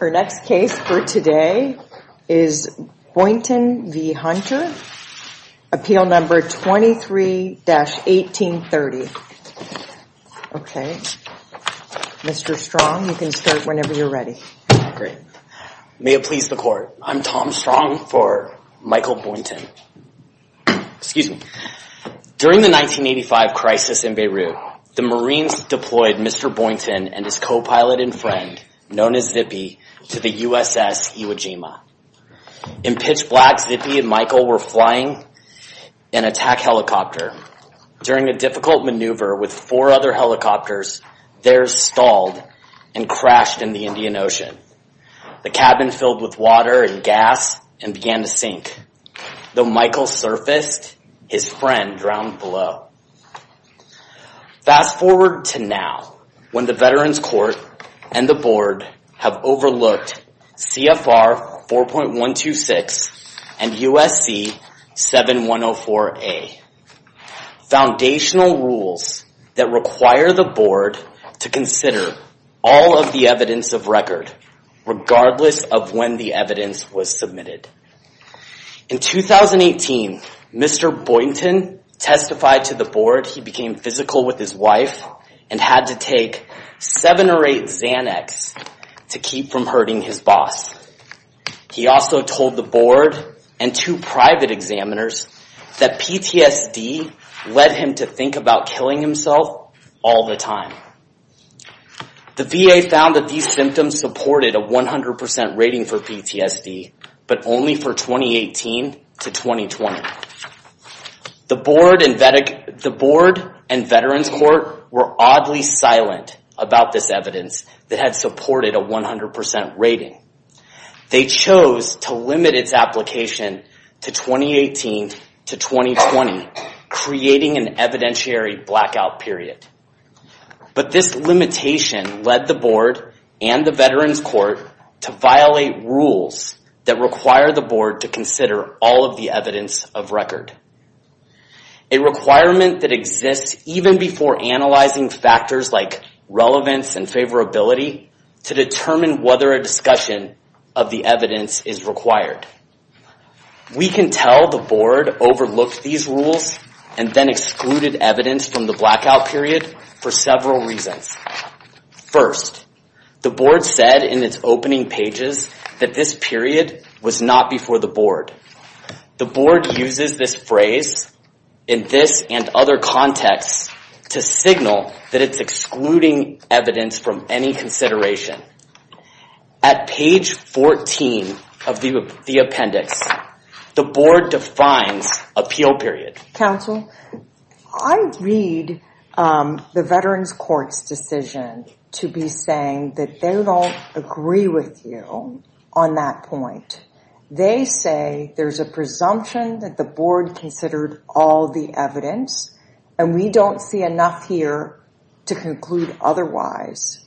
Our next case for today is Boynton v. Hunter, appeal number 23-1830. Okay, Mr. Strong, you can start whenever you're ready. Great. May it please the court. I'm Tom Strong for Michael Boynton. Excuse me. During the 1985 crisis in Beirut, the Marines deployed Mr. Boynton and his co-pilot and friend, known as Zippy, to the USS Iwo Jima. In pitch black, Zippy and Michael were flying an attack helicopter. During a difficult maneuver with four other helicopters, theirs stalled and crashed in the Indian Ocean. The cabin filled with water and gas and began to sink. Though Michael surfaced, his friend drowned below. Fast forward to now, when the Veterans Court and the board have overlooked CFR 4.126 and USC 7104A, foundational rules that require the board to consider all of the evidence of record, regardless of when the evidence was submitted. In 2018, Mr. Boynton testified to the board he became physical with his wife and had to take seven or eight Xanax to keep from hurting his boss. He also told the board and two private examiners that PTSD led him to think about killing himself all the time. The VA found that these symptoms supported a 100% rating for PTSD, but only for 2018 to 2020. The board and Veterans Court were oddly silent about this evidence that had supported a 100% rating. They chose to limit its application to 2018 to 2020, creating an evidentiary blackout period. But this limitation led the board and the Veterans Court to violate rules that require the board to consider all of the evidence of record. A requirement that exists even before analyzing factors like relevance and favorability to determine whether a discussion of the evidence is required. We can tell the board overlooked these rules and then excluded evidence from the blackout period for several reasons. First, the board said in its opening pages that this period was not before the board. The board uses this phrase in this and other contexts to signal that it's excluding evidence from any consideration. At page 14 of the appendix, the board defines appeal period. Counsel, I read the Veterans Court's decision to be saying that they don't agree with you on that point. They say there's a presumption that the board considered all the evidence and we don't see enough here to conclude otherwise.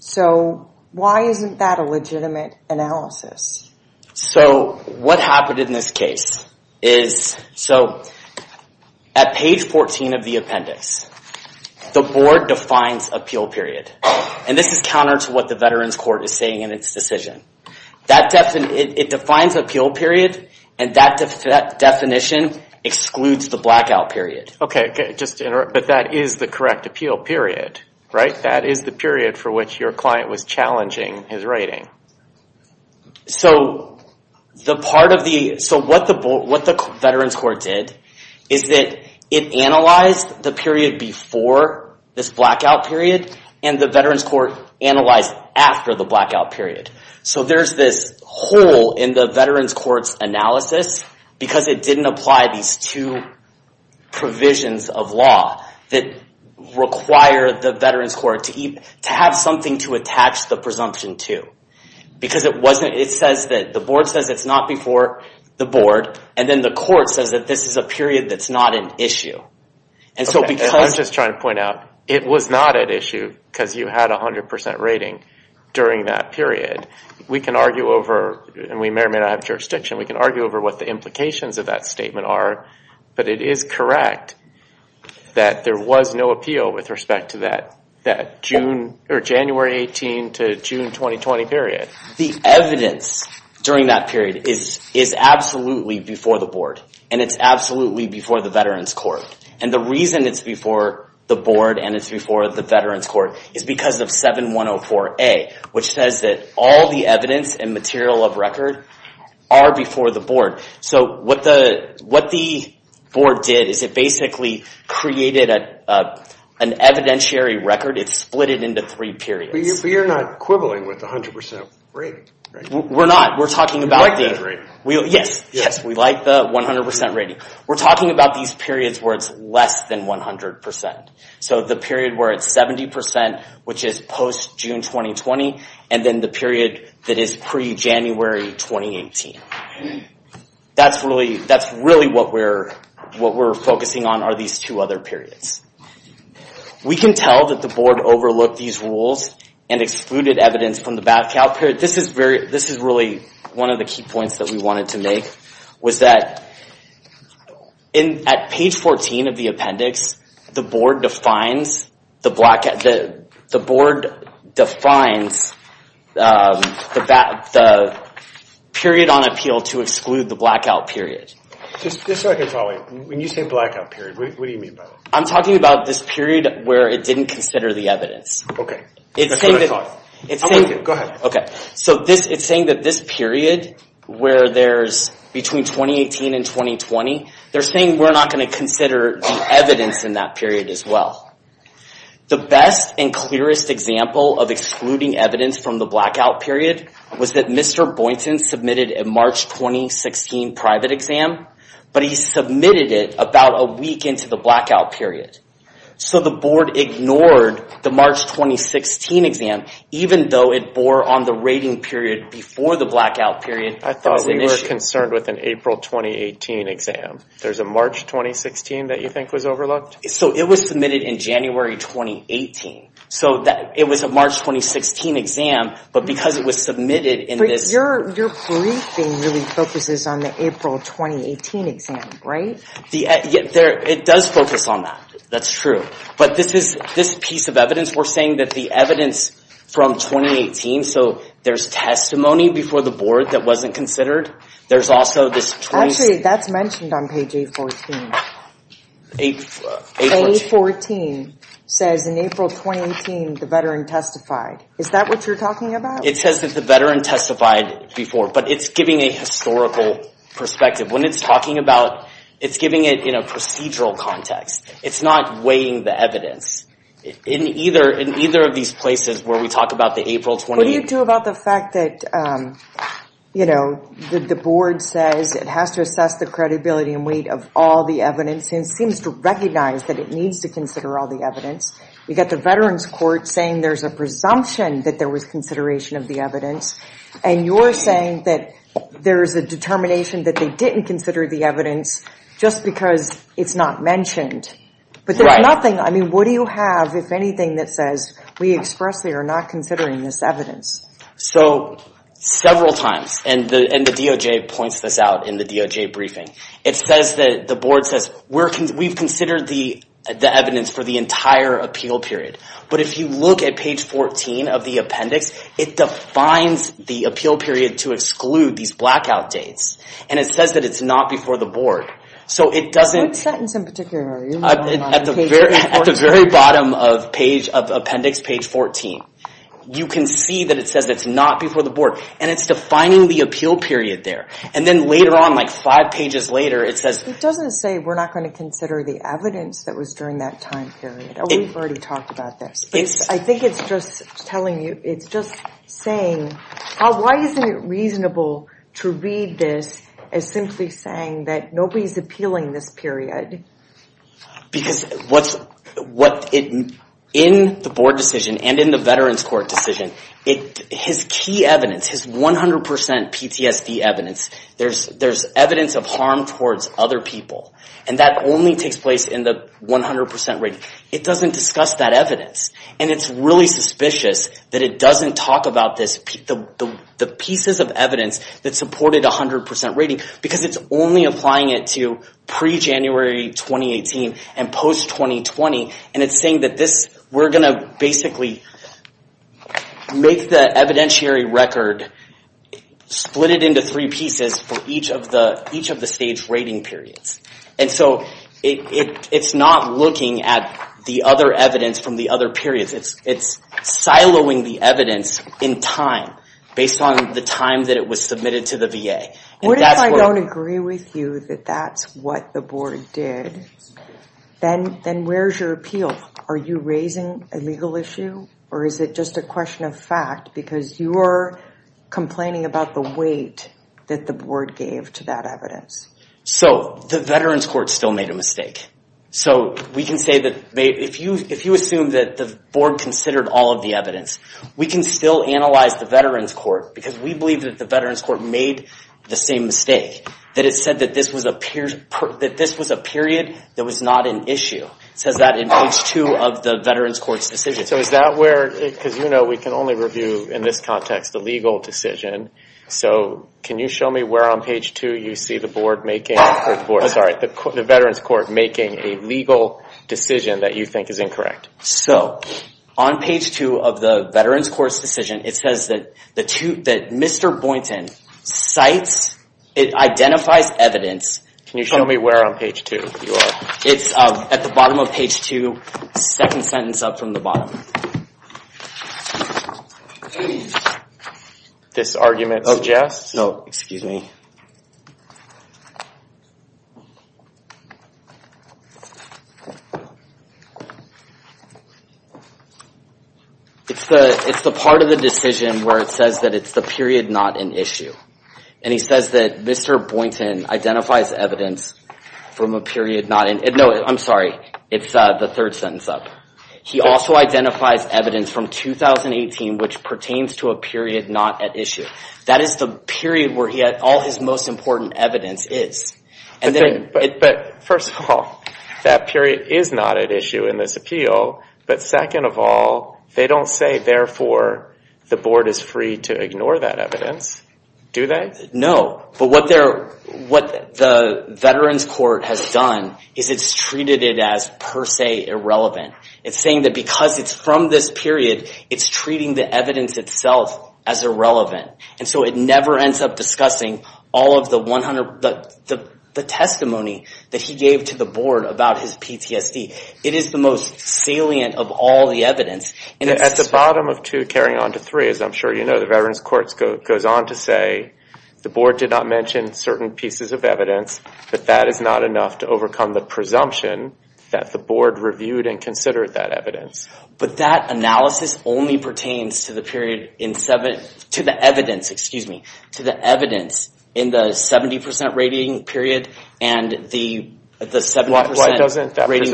So why isn't that a legitimate analysis? So what happened in this case is, so at page 14 of the appendix, the board defines appeal period. And this is counter to what the Veterans Court is saying in its decision. It defines appeal period and that definition excludes the blackout period. Okay, just to interrupt, but that is the correct appeal period, right? That is the period for which your client was challenging his writing. So what the Veterans Court did is that it analyzed the period before this blackout period and the Veterans Court analyzed after the blackout period. So there's this hole in the Veterans Court's analysis because it didn't apply these two provisions of law that require the Veterans Court to have something to attach the presumption to. Because it says that the board says it's not before the board and then the court says that this is a period that's not an issue. I'm just trying to point out, it was not an issue because you had 100% rating during that period. We can argue over, and we may or may not have jurisdiction, we can argue over what the implications of that statement are, but it is correct that there was no appeal with respect to that January 18 to June 2020 period. The evidence during that period is absolutely before the board and it's absolutely before the Veterans Court. And the reason it's before the board and it's before the Veterans Court is because of 7104A, which says that all the evidence and material of record are before the So what the board did is it basically created an evidentiary record. It split it into three periods. But you're not quibbling with 100% rating, right? We're not. We're talking about the 100% rating. Yes, we like the 100% rating. We're talking about these periods where it's less than 100%. So the period where it's 70%, which is post-June 2020, and then the period that is pre-January 2018. That's really what we're focusing on are these two other periods. We can tell that the board overlooked these rules and excluded evidence from the Bat-Cow period. This is really one of the key points that we wanted to make, was that at page 14 of the appendix, the board defines the period on appeal to exclude the blackout period. Just so I can follow, when you say blackout period, what do you mean by that? I'm talking about this period where it didn't consider the evidence. Okay. That's what I mean. Between 2018 and 2020, they're saying we're not going to consider the evidence in that period as well. The best and clearest example of excluding evidence from the blackout period was that Mr. Boynton submitted a March 2016 private exam, but he submitted it about a week into the blackout period. So the board ignored the March 2016 exam, even though it bore on the period before the blackout period. I thought we were concerned with an April 2018 exam. There's a March 2016 that you think was overlooked? It was submitted in January 2018. It was a March 2016 exam, but because it was submitted in this- Your briefing really focuses on the April 2018 exam, right? It does focus on that. That's true. But this piece of evidence, we're saying that the evidence from 2018, so there's testimony before the board that wasn't considered. There's also this- Actually, that's mentioned on page A14. A14 says in April 2018, the veteran testified. Is that what you're talking about? It says that the veteran testified before, but it's giving a historical perspective. When it's talking about, it's giving it in a procedural context. It's not weighing the evidence. In either of these places where we talk about the April 2018- What do you do about the fact that the board says it has to assess the credibility and weight of all the evidence and seems to recognize that it needs to consider all the evidence? We got the veterans court saying there's a presumption that there was consideration of the evidence, and you're saying that there's a determination that they didn't consider the evidence just because it's not mentioned. But there's nothing. What do you have, if anything, that says we expressly are not considering this evidence? Several times, and the DOJ points this out in the DOJ briefing. It says that the board says, we've considered the evidence for the entire appeal period. But if you look at page 14 of the appendix, it defines the appeal period to exclude these blackout dates. It says that it's not before the board. What sentence in particular are you referring to? At the very bottom of appendix page 14, you can see that it says it's not before the board, and it's defining the appeal period there. Then later on, five pages later, it says- It doesn't say we're not going to consider the evidence that was during that time period. We've already talked about this. I think it's just telling you, it's just saying, why isn't it reasonable to read this as simply saying that nobody's appealing this period? In the board decision and in the veterans court decision, his key evidence, his 100% PTSD evidence, there's evidence of harm towards other people. That only takes place in the 100% rating. It doesn't discuss that evidence. It's really suspicious that it doesn't talk about the pieces of evidence that supported 100% rating, because it's only applying it to pre-January 2018 and post-2020. It's saying that we're going to basically make the evidentiary record, split it into three pieces for each of the stage rating periods. It's not looking at the other evidence from the other periods. It's siloing the evidence time based on the time that it was submitted to the VA. What if I don't agree with you that that's what the board did? Then where's your appeal? Are you raising a legal issue or is it just a question of fact because you are complaining about the weight that the board gave to that evidence? The veterans court still made a mistake. We can say that if you assume that the board considered all of the evidence, we can still analyze the veterans court because we believe that the veterans court made the same mistake. That it said that this was a period that was not an issue. It says that in page two of the veterans court's decision. So is that where, because you know we can only review in this context the legal decision. So can you show me where on page two you see the veterans court making a legal decision that you is incorrect? So on page two of the veterans court's decision, it says that Mr. Boynton cites, it identifies evidence. Can you show me where on page two you are? It's at the bottom of page two, second sentence up from the bottom. It's the part of the decision where it says that it's the period not an issue. And he says that Mr. Boynton identifies evidence from a period not, no I'm sorry, it's the third sentence up. He also identifies evidence from 2018 which pertains to a period not at issue. That is the period where he had all his most important evidence is. But first of all, that period is not at issue in this appeal. But second of all, they don't say therefore the board is free to ignore that evidence. Do they? No. But what the veterans court has done is it's treated it as per se irrelevant. It's saying that because it's from this period, it's treating the evidence itself as irrelevant. And so it never ends up discussing all of the testimony that he gave to the board about his PTSD. It is the most salient of all the evidence. At the bottom of two, carrying on to three, I'm sure you know the veterans court goes on to say the board did not mention certain pieces of evidence, but that is not enough to overcome the presumption that the board reviewed and considered that evidence. But that analysis only pertains to the period in seven, to the evidence, excuse me, to the evidence in the 70% rating period and the 70% rating. Why doesn't that what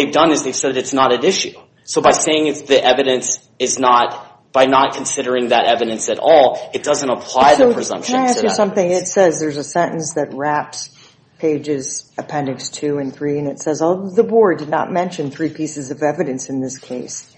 they've done is they've said it's not at issue. So by saying the evidence is not, by not considering that evidence at all, it doesn't apply the presumption. So can I ask you something? It says there's a sentence that wraps pages appendix two and three and it says, oh, the board did not mention three pieces of evidence in this case.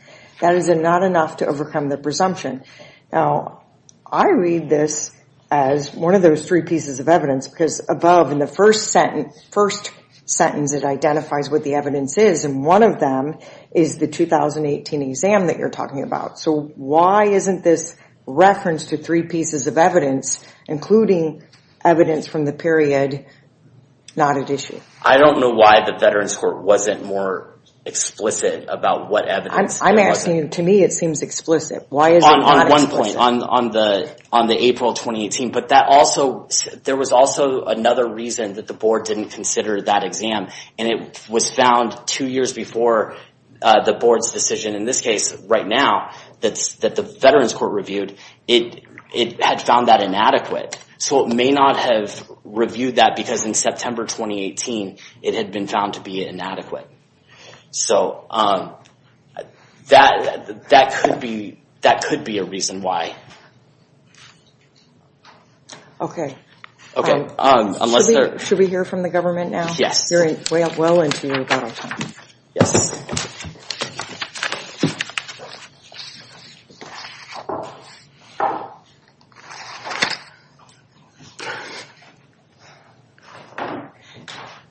That is not enough to overcome the presumption. Now, I read this as one of those three pieces of evidence because above in the first sentence, it identifies what the evidence is. And one of them is the 2018 exam that you're talking about. So why isn't this reference to three pieces of evidence, including evidence from the period, not at issue? I don't know why the veterans court wasn't more explicit about what evidence. I'm asking you, to me, it seems explicit. Why is it not explicit? On the April 2018, but there was also another reason that the board didn't consider that exam. And it was found two years before the board's decision. In this case, right now, that the veterans court reviewed, it had found that inadequate. So it may not have reviewed that because in September 2018, it had been found to be inadequate. So that could be a reason why. Okay. Should we hear from the government now? Yes.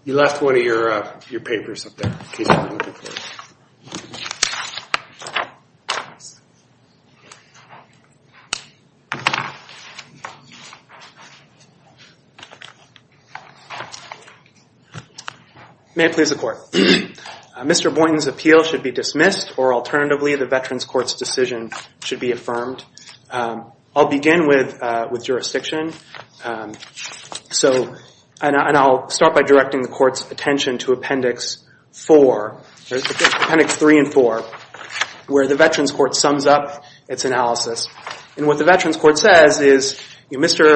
You left one of your papers up there, in case you weren't looking for it. May it please the court. Mr. Boynton's appeal should be dismissed or alternatively, the veterans court's decision should be affirmed. I'll begin with jurisdiction. So, and I'll start by directing the court's attention to appendix four, appendix three and four, where the veterans court sums up its analysis. And what the veterans court says is, Mr.,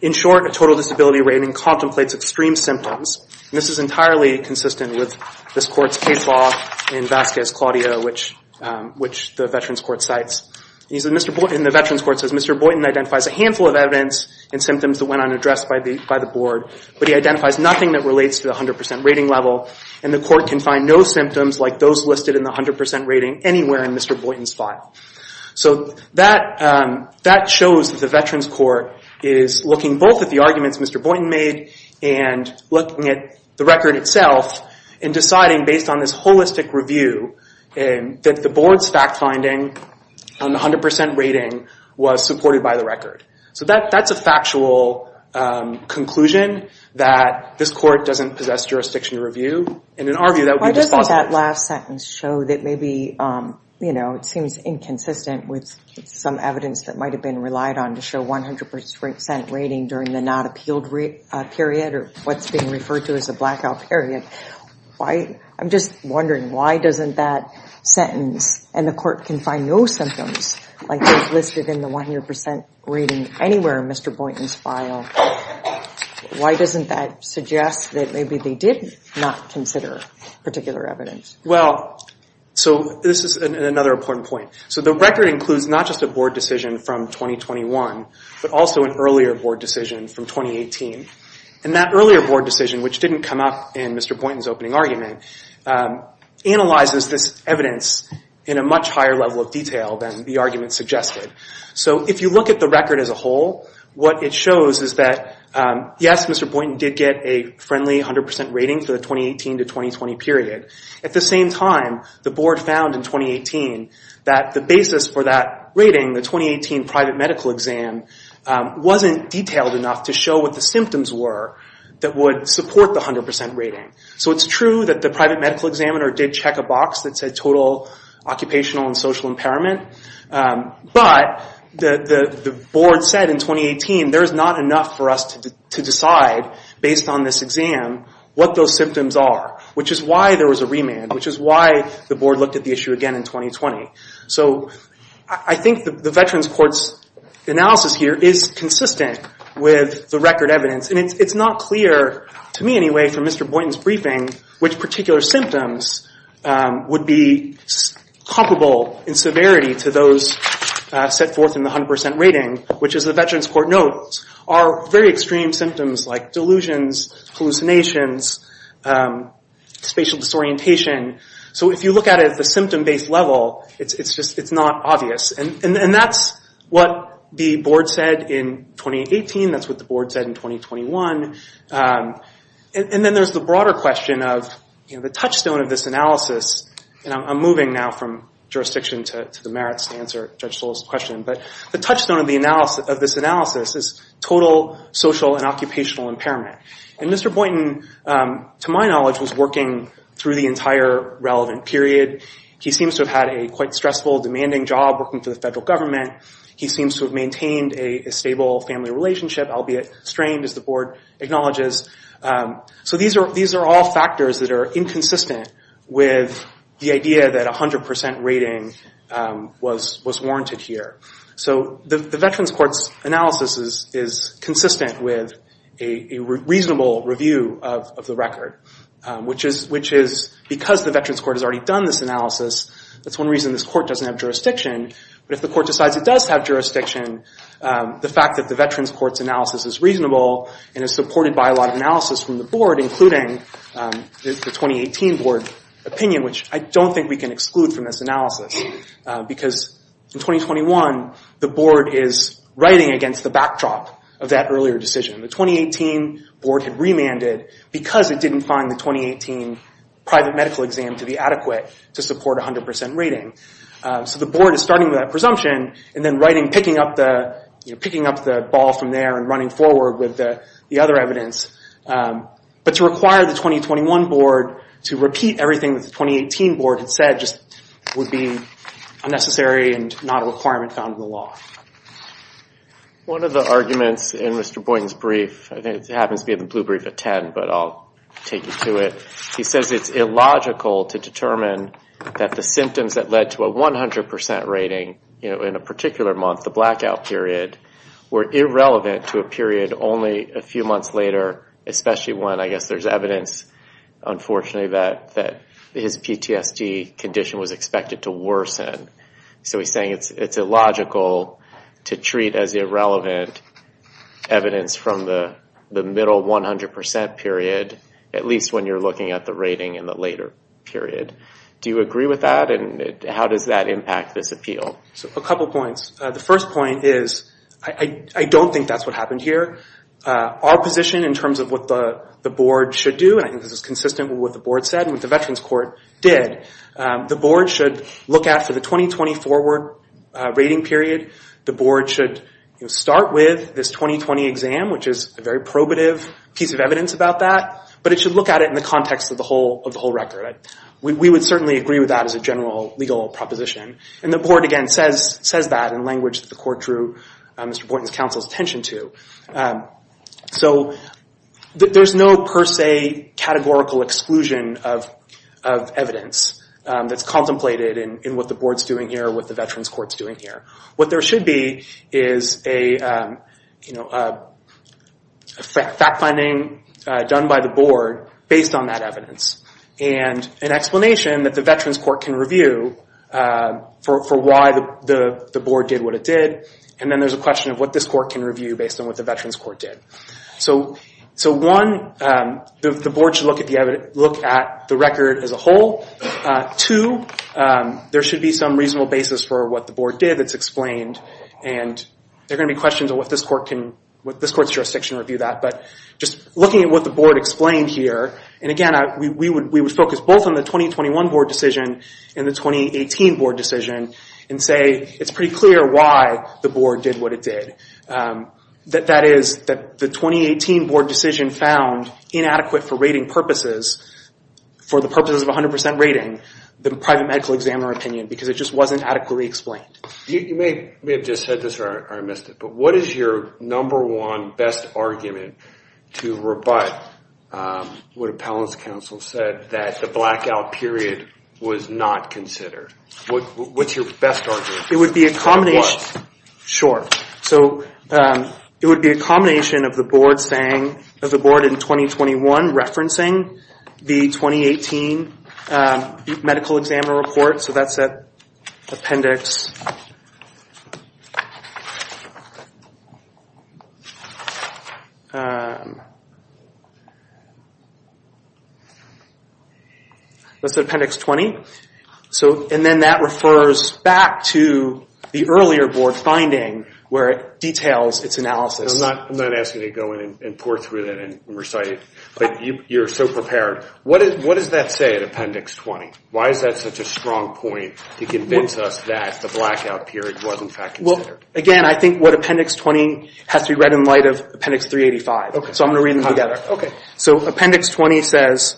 in short, a total disability rating contemplates extreme symptoms. And this is entirely consistent with this court's case law in Vasquez, Claudia, which the veterans court cites. And the veterans court says, Mr. Boynton identifies a handful of evidence and symptoms that went unaddressed by the board, but he identifies nothing that relates to the 100% rating level. And the court can find no symptoms like those listed in the 100% rating anywhere in Mr. Boynton's file. So that shows that the veterans court is looking both at the arguments Mr. Boynton made and looking at the record itself and deciding based on this holistic review that the board's fact finding on the 100% rating was supported by the record. So that's a factual conclusion that this court doesn't possess jurisdiction to review. And in our view, that would be dispositive. Why doesn't that last sentence show that maybe, you know, it seems inconsistent with some evidence that might have been relied on to show 100% rating during the not appealed period or what's being referred to as a blackout period. I'm just wondering, why doesn't that sentence, and the court can find no symptoms like those listed in the 100% rating anywhere in Mr. Boynton's file, why doesn't that suggest that maybe they did not consider particular evidence? Well, so this is another important point. So the record includes not just a board decision from 2021, but also an earlier board decision from 2018. And that earlier board decision, which didn't come up in Mr. Boynton's opening argument, analyzes this evidence in a much higher level of detail than the argument suggested. So if you look at the record as a whole, what it shows is that, yes, Mr. Boynton did get a friendly 100% rating for the 2018 to 2020 period. At the same time, the board found in 2018 that the basis for that rating, the 2018 private medical exam, wasn't detailed enough to show what the symptoms were that would support the 100% rating. So it's true that the private medical examiner did check a box that said total occupational and social impairment, but the board said in 2018 there's not enough for us to decide, based on this exam, what those symptoms are, which is why there was a remand, which is why the board looked at the issue again in 2020. So I think the Veterans Court's analysis here is consistent with the record evidence. And it's not clear, to me anyway, from Mr. Boynton's briefing, which particular symptoms would be comparable in severity to those set forth in the 100% rating, which, as the Veterans Court notes, are very extreme symptoms like delusions, hallucinations, spatial disorientation. So if you look at it at the symptom-based level, it's just not obvious. And that's what the board said in 2018. That's what the board said in 2021. And then there's the broader question of the touchstone of this analysis. And I'm moving now from jurisdiction to the merits to answer Judge Soule's question. But the touchstone of this analysis is total social and occupational impairment. And Mr. Boynton, to my knowledge, was working through the entire relevant period. He seems to have had a quite stressful, demanding job working for the federal government. He seems to have maintained a stable family relationship, albeit strained, as the board acknowledges. So these are all factors that are inconsistent with the idea that 100% rating was warranted here. So the Veterans Court's analysis is consistent with a reasonable review of the record, which is because the Veterans Court has already done this analysis. That's one reason this court doesn't have jurisdiction. But if the court decides it does have jurisdiction, the fact that the Veterans Court's analysis is reasonable and is supported by a lot of analysis from the board, including the 2018 board opinion, which I don't think we can exclude from this analysis. Because in 2021, the board is writing against the backdrop of that earlier decision. The 2018 board had remanded because it didn't find the 2018 private medical exam to be adequate to support 100% rating. So the board is starting with that presumption and then writing, picking up the ball from there and running forward with the other evidence. But to require the 2021 board to repeat everything that the 2018 board had said just would be unnecessary and not a requirement found in the law. One of the arguments in Mr. Boynton's brief, I think it happens to be the blue brief at 10, but I'll take you to it. He says it's illogical to determine that the symptoms that led to a 100% rating in a particular month, the blackout period, were irrelevant to a period only a few months later, especially when I guess there's evidence, unfortunately, that his PTSD condition was expected to worsen. So he's saying it's illogical to treat as irrelevant evidence from the middle 100% period, at least when you're looking at the rating in the later period. Do you how does that impact this appeal? So a couple points. The first point is I don't think that's what happened here. Our position in terms of what the board should do, and I think this is consistent with what the board said and what the Veterans Court did, the board should look at for the 2020 forward rating period. The board should start with this 2020 exam, which is a very probative piece of evidence about that, but it should look at it in the context of the whole record. We would agree with that as a general legal proposition. And the board, again, says that in language that the court drew Mr. Boynton's counsel's attention to. So there's no per se categorical exclusion of evidence that's contemplated in what the board's doing here, what the Veterans Court's doing here. What there should be is a fact finding done by the board based on that evidence, and an explanation that the Veterans Court can review for why the board did what it did, and then there's a question of what this court can review based on what the Veterans Court did. So one, the board should look at the record as a whole. Two, there should be some reasonable basis for what the board did that's explained, and there are going to be questions on what this court's jurisdiction review that. But just looking at what the board explained here, and again, we would focus both on the 2021 board decision and the 2018 board decision, and say it's pretty clear why the board did what it did. That is, that the 2018 board decision found inadequate for rating purposes, for the purposes of 100% rating, the private medical examiner opinion, because it just wasn't adequately explained. You may have just said this or I missed it, but what is your number one best argument to rebut what Appellant's counsel said, that the blackout period was not considered? What's your best argument? It would be a combination, sure, so it would be a combination of the board saying, of the board in 2021 referencing the 2018 medical examiner report, so that's at appendix 20, and then that refers back to the earlier board finding where it details its analysis. I'm not asking you to go in and pour through that and recite it, but you're so prepared. What does that say at appendix 20? Why is that such a strong point to convince us that the blackout period was in fact considered? Well, again, I think what appendix 20 has to be read in light of appendix 385, so I'm going to read them together. So appendix 20 says,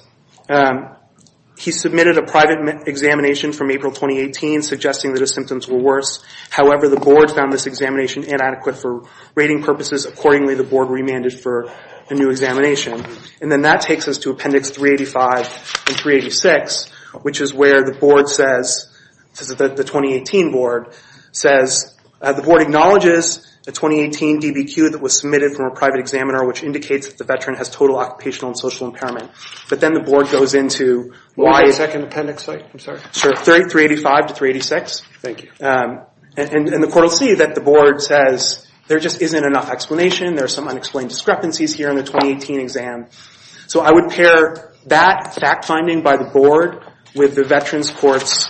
he submitted a private examination from April 2018, suggesting that his symptoms were worse. However, the board found this examination inadequate for rating purposes. Accordingly, the board remanded for a new examination, and then that takes us to appendix 385 and 386, which is where the board says, the 2018 board says, the board acknowledges the 2018 DBQ that was submitted from a private examiner, which indicates that the veteran has total occupational and social impairment, but then the board goes into the second appendix site, I'm sorry. Sure, 385 to 386. Thank you. And the court will see that the board says there just isn't enough explanation, there's some unexplained discrepancies here in the 2018 exam. So I would pair that fact finding by the board with the veterans court's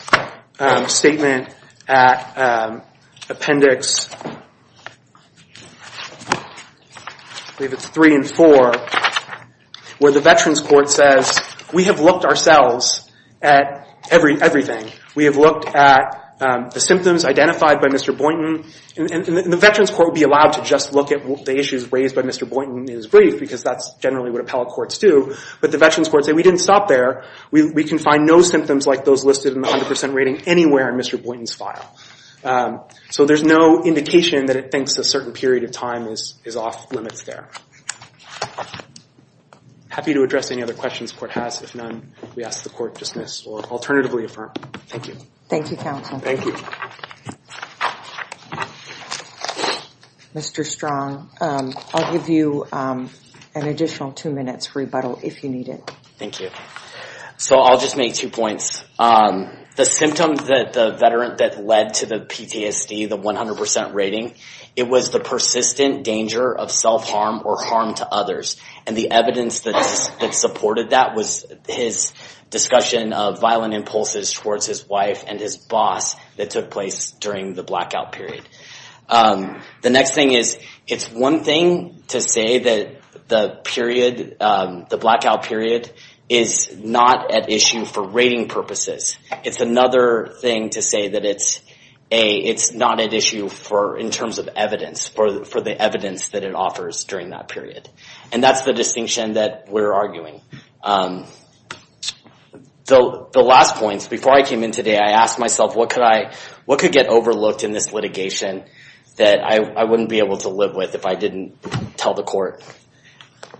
statement at appendix I believe it's three and four, where the veterans court says, we have looked ourselves at everything. We have looked at the symptoms identified by Mr. Boynton, and the veterans court would be allowed to just look at the issues raised by Mr. Boynton in his brief, because that's generally what appellate courts do, but the veterans courts say, we didn't stop there, we can find no symptoms like those in the 100% rating anywhere in Mr. Boynton's file. So there's no indication that it thinks a certain period of time is off limits there. Happy to address any other questions the court has. If none, we ask the court dismiss or alternatively affirm. Thank you. Thank you counsel. Thank you. Mr. Strong, I'll give you an additional two minutes rebuttal if you need it. Thank you. So I'll just make two points. The symptoms that the veteran that led to the PTSD, the 100% rating, it was the persistent danger of self-harm or harm to others. And the evidence that supported that was his discussion of violent impulses towards his wife and his boss that took place during the blackout period. The next thing is, it's one thing to say that the period, the blackout period, is not at issue for rating purposes. It's another thing to say that it's not at issue for, in terms of evidence, for the evidence that it offers during that period. And that's the distinction that we're arguing. So the last points, before I came in today, I asked myself, what could get overlooked in this litigation that I wouldn't be able to live with if I didn't tell the court?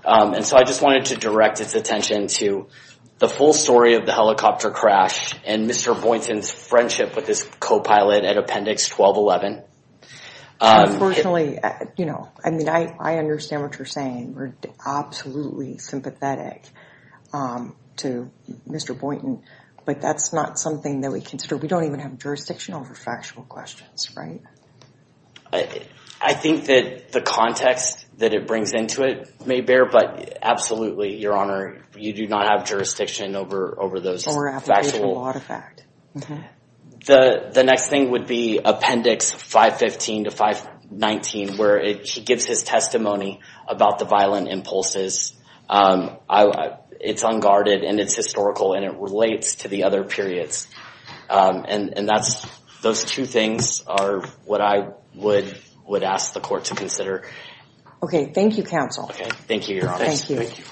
And so I just wanted to direct its attention to the full story of the helicopter crash and Mr. Boynton's friendship with his co-pilot at Appendix 1211. Unfortunately, I mean, I understand what you're saying. We're absolutely sympathetic to Mr. Boynton, but that's not something that we consider. We don't even have jurisdiction over factual questions, right? I think that the context that it brings into it may bear, but absolutely, Your Honor, you do not have jurisdiction over those factual... Or applicable artifact. The next thing would be Appendix 515 to 519, where he gives his testimony about the violent impulses. It's unguarded, and it's historical, and it relates to the other periods. And those two things are what I would ask the court to consider. Okay. Thank you, counsel. Okay. Thank you, Your Honor. Thank you.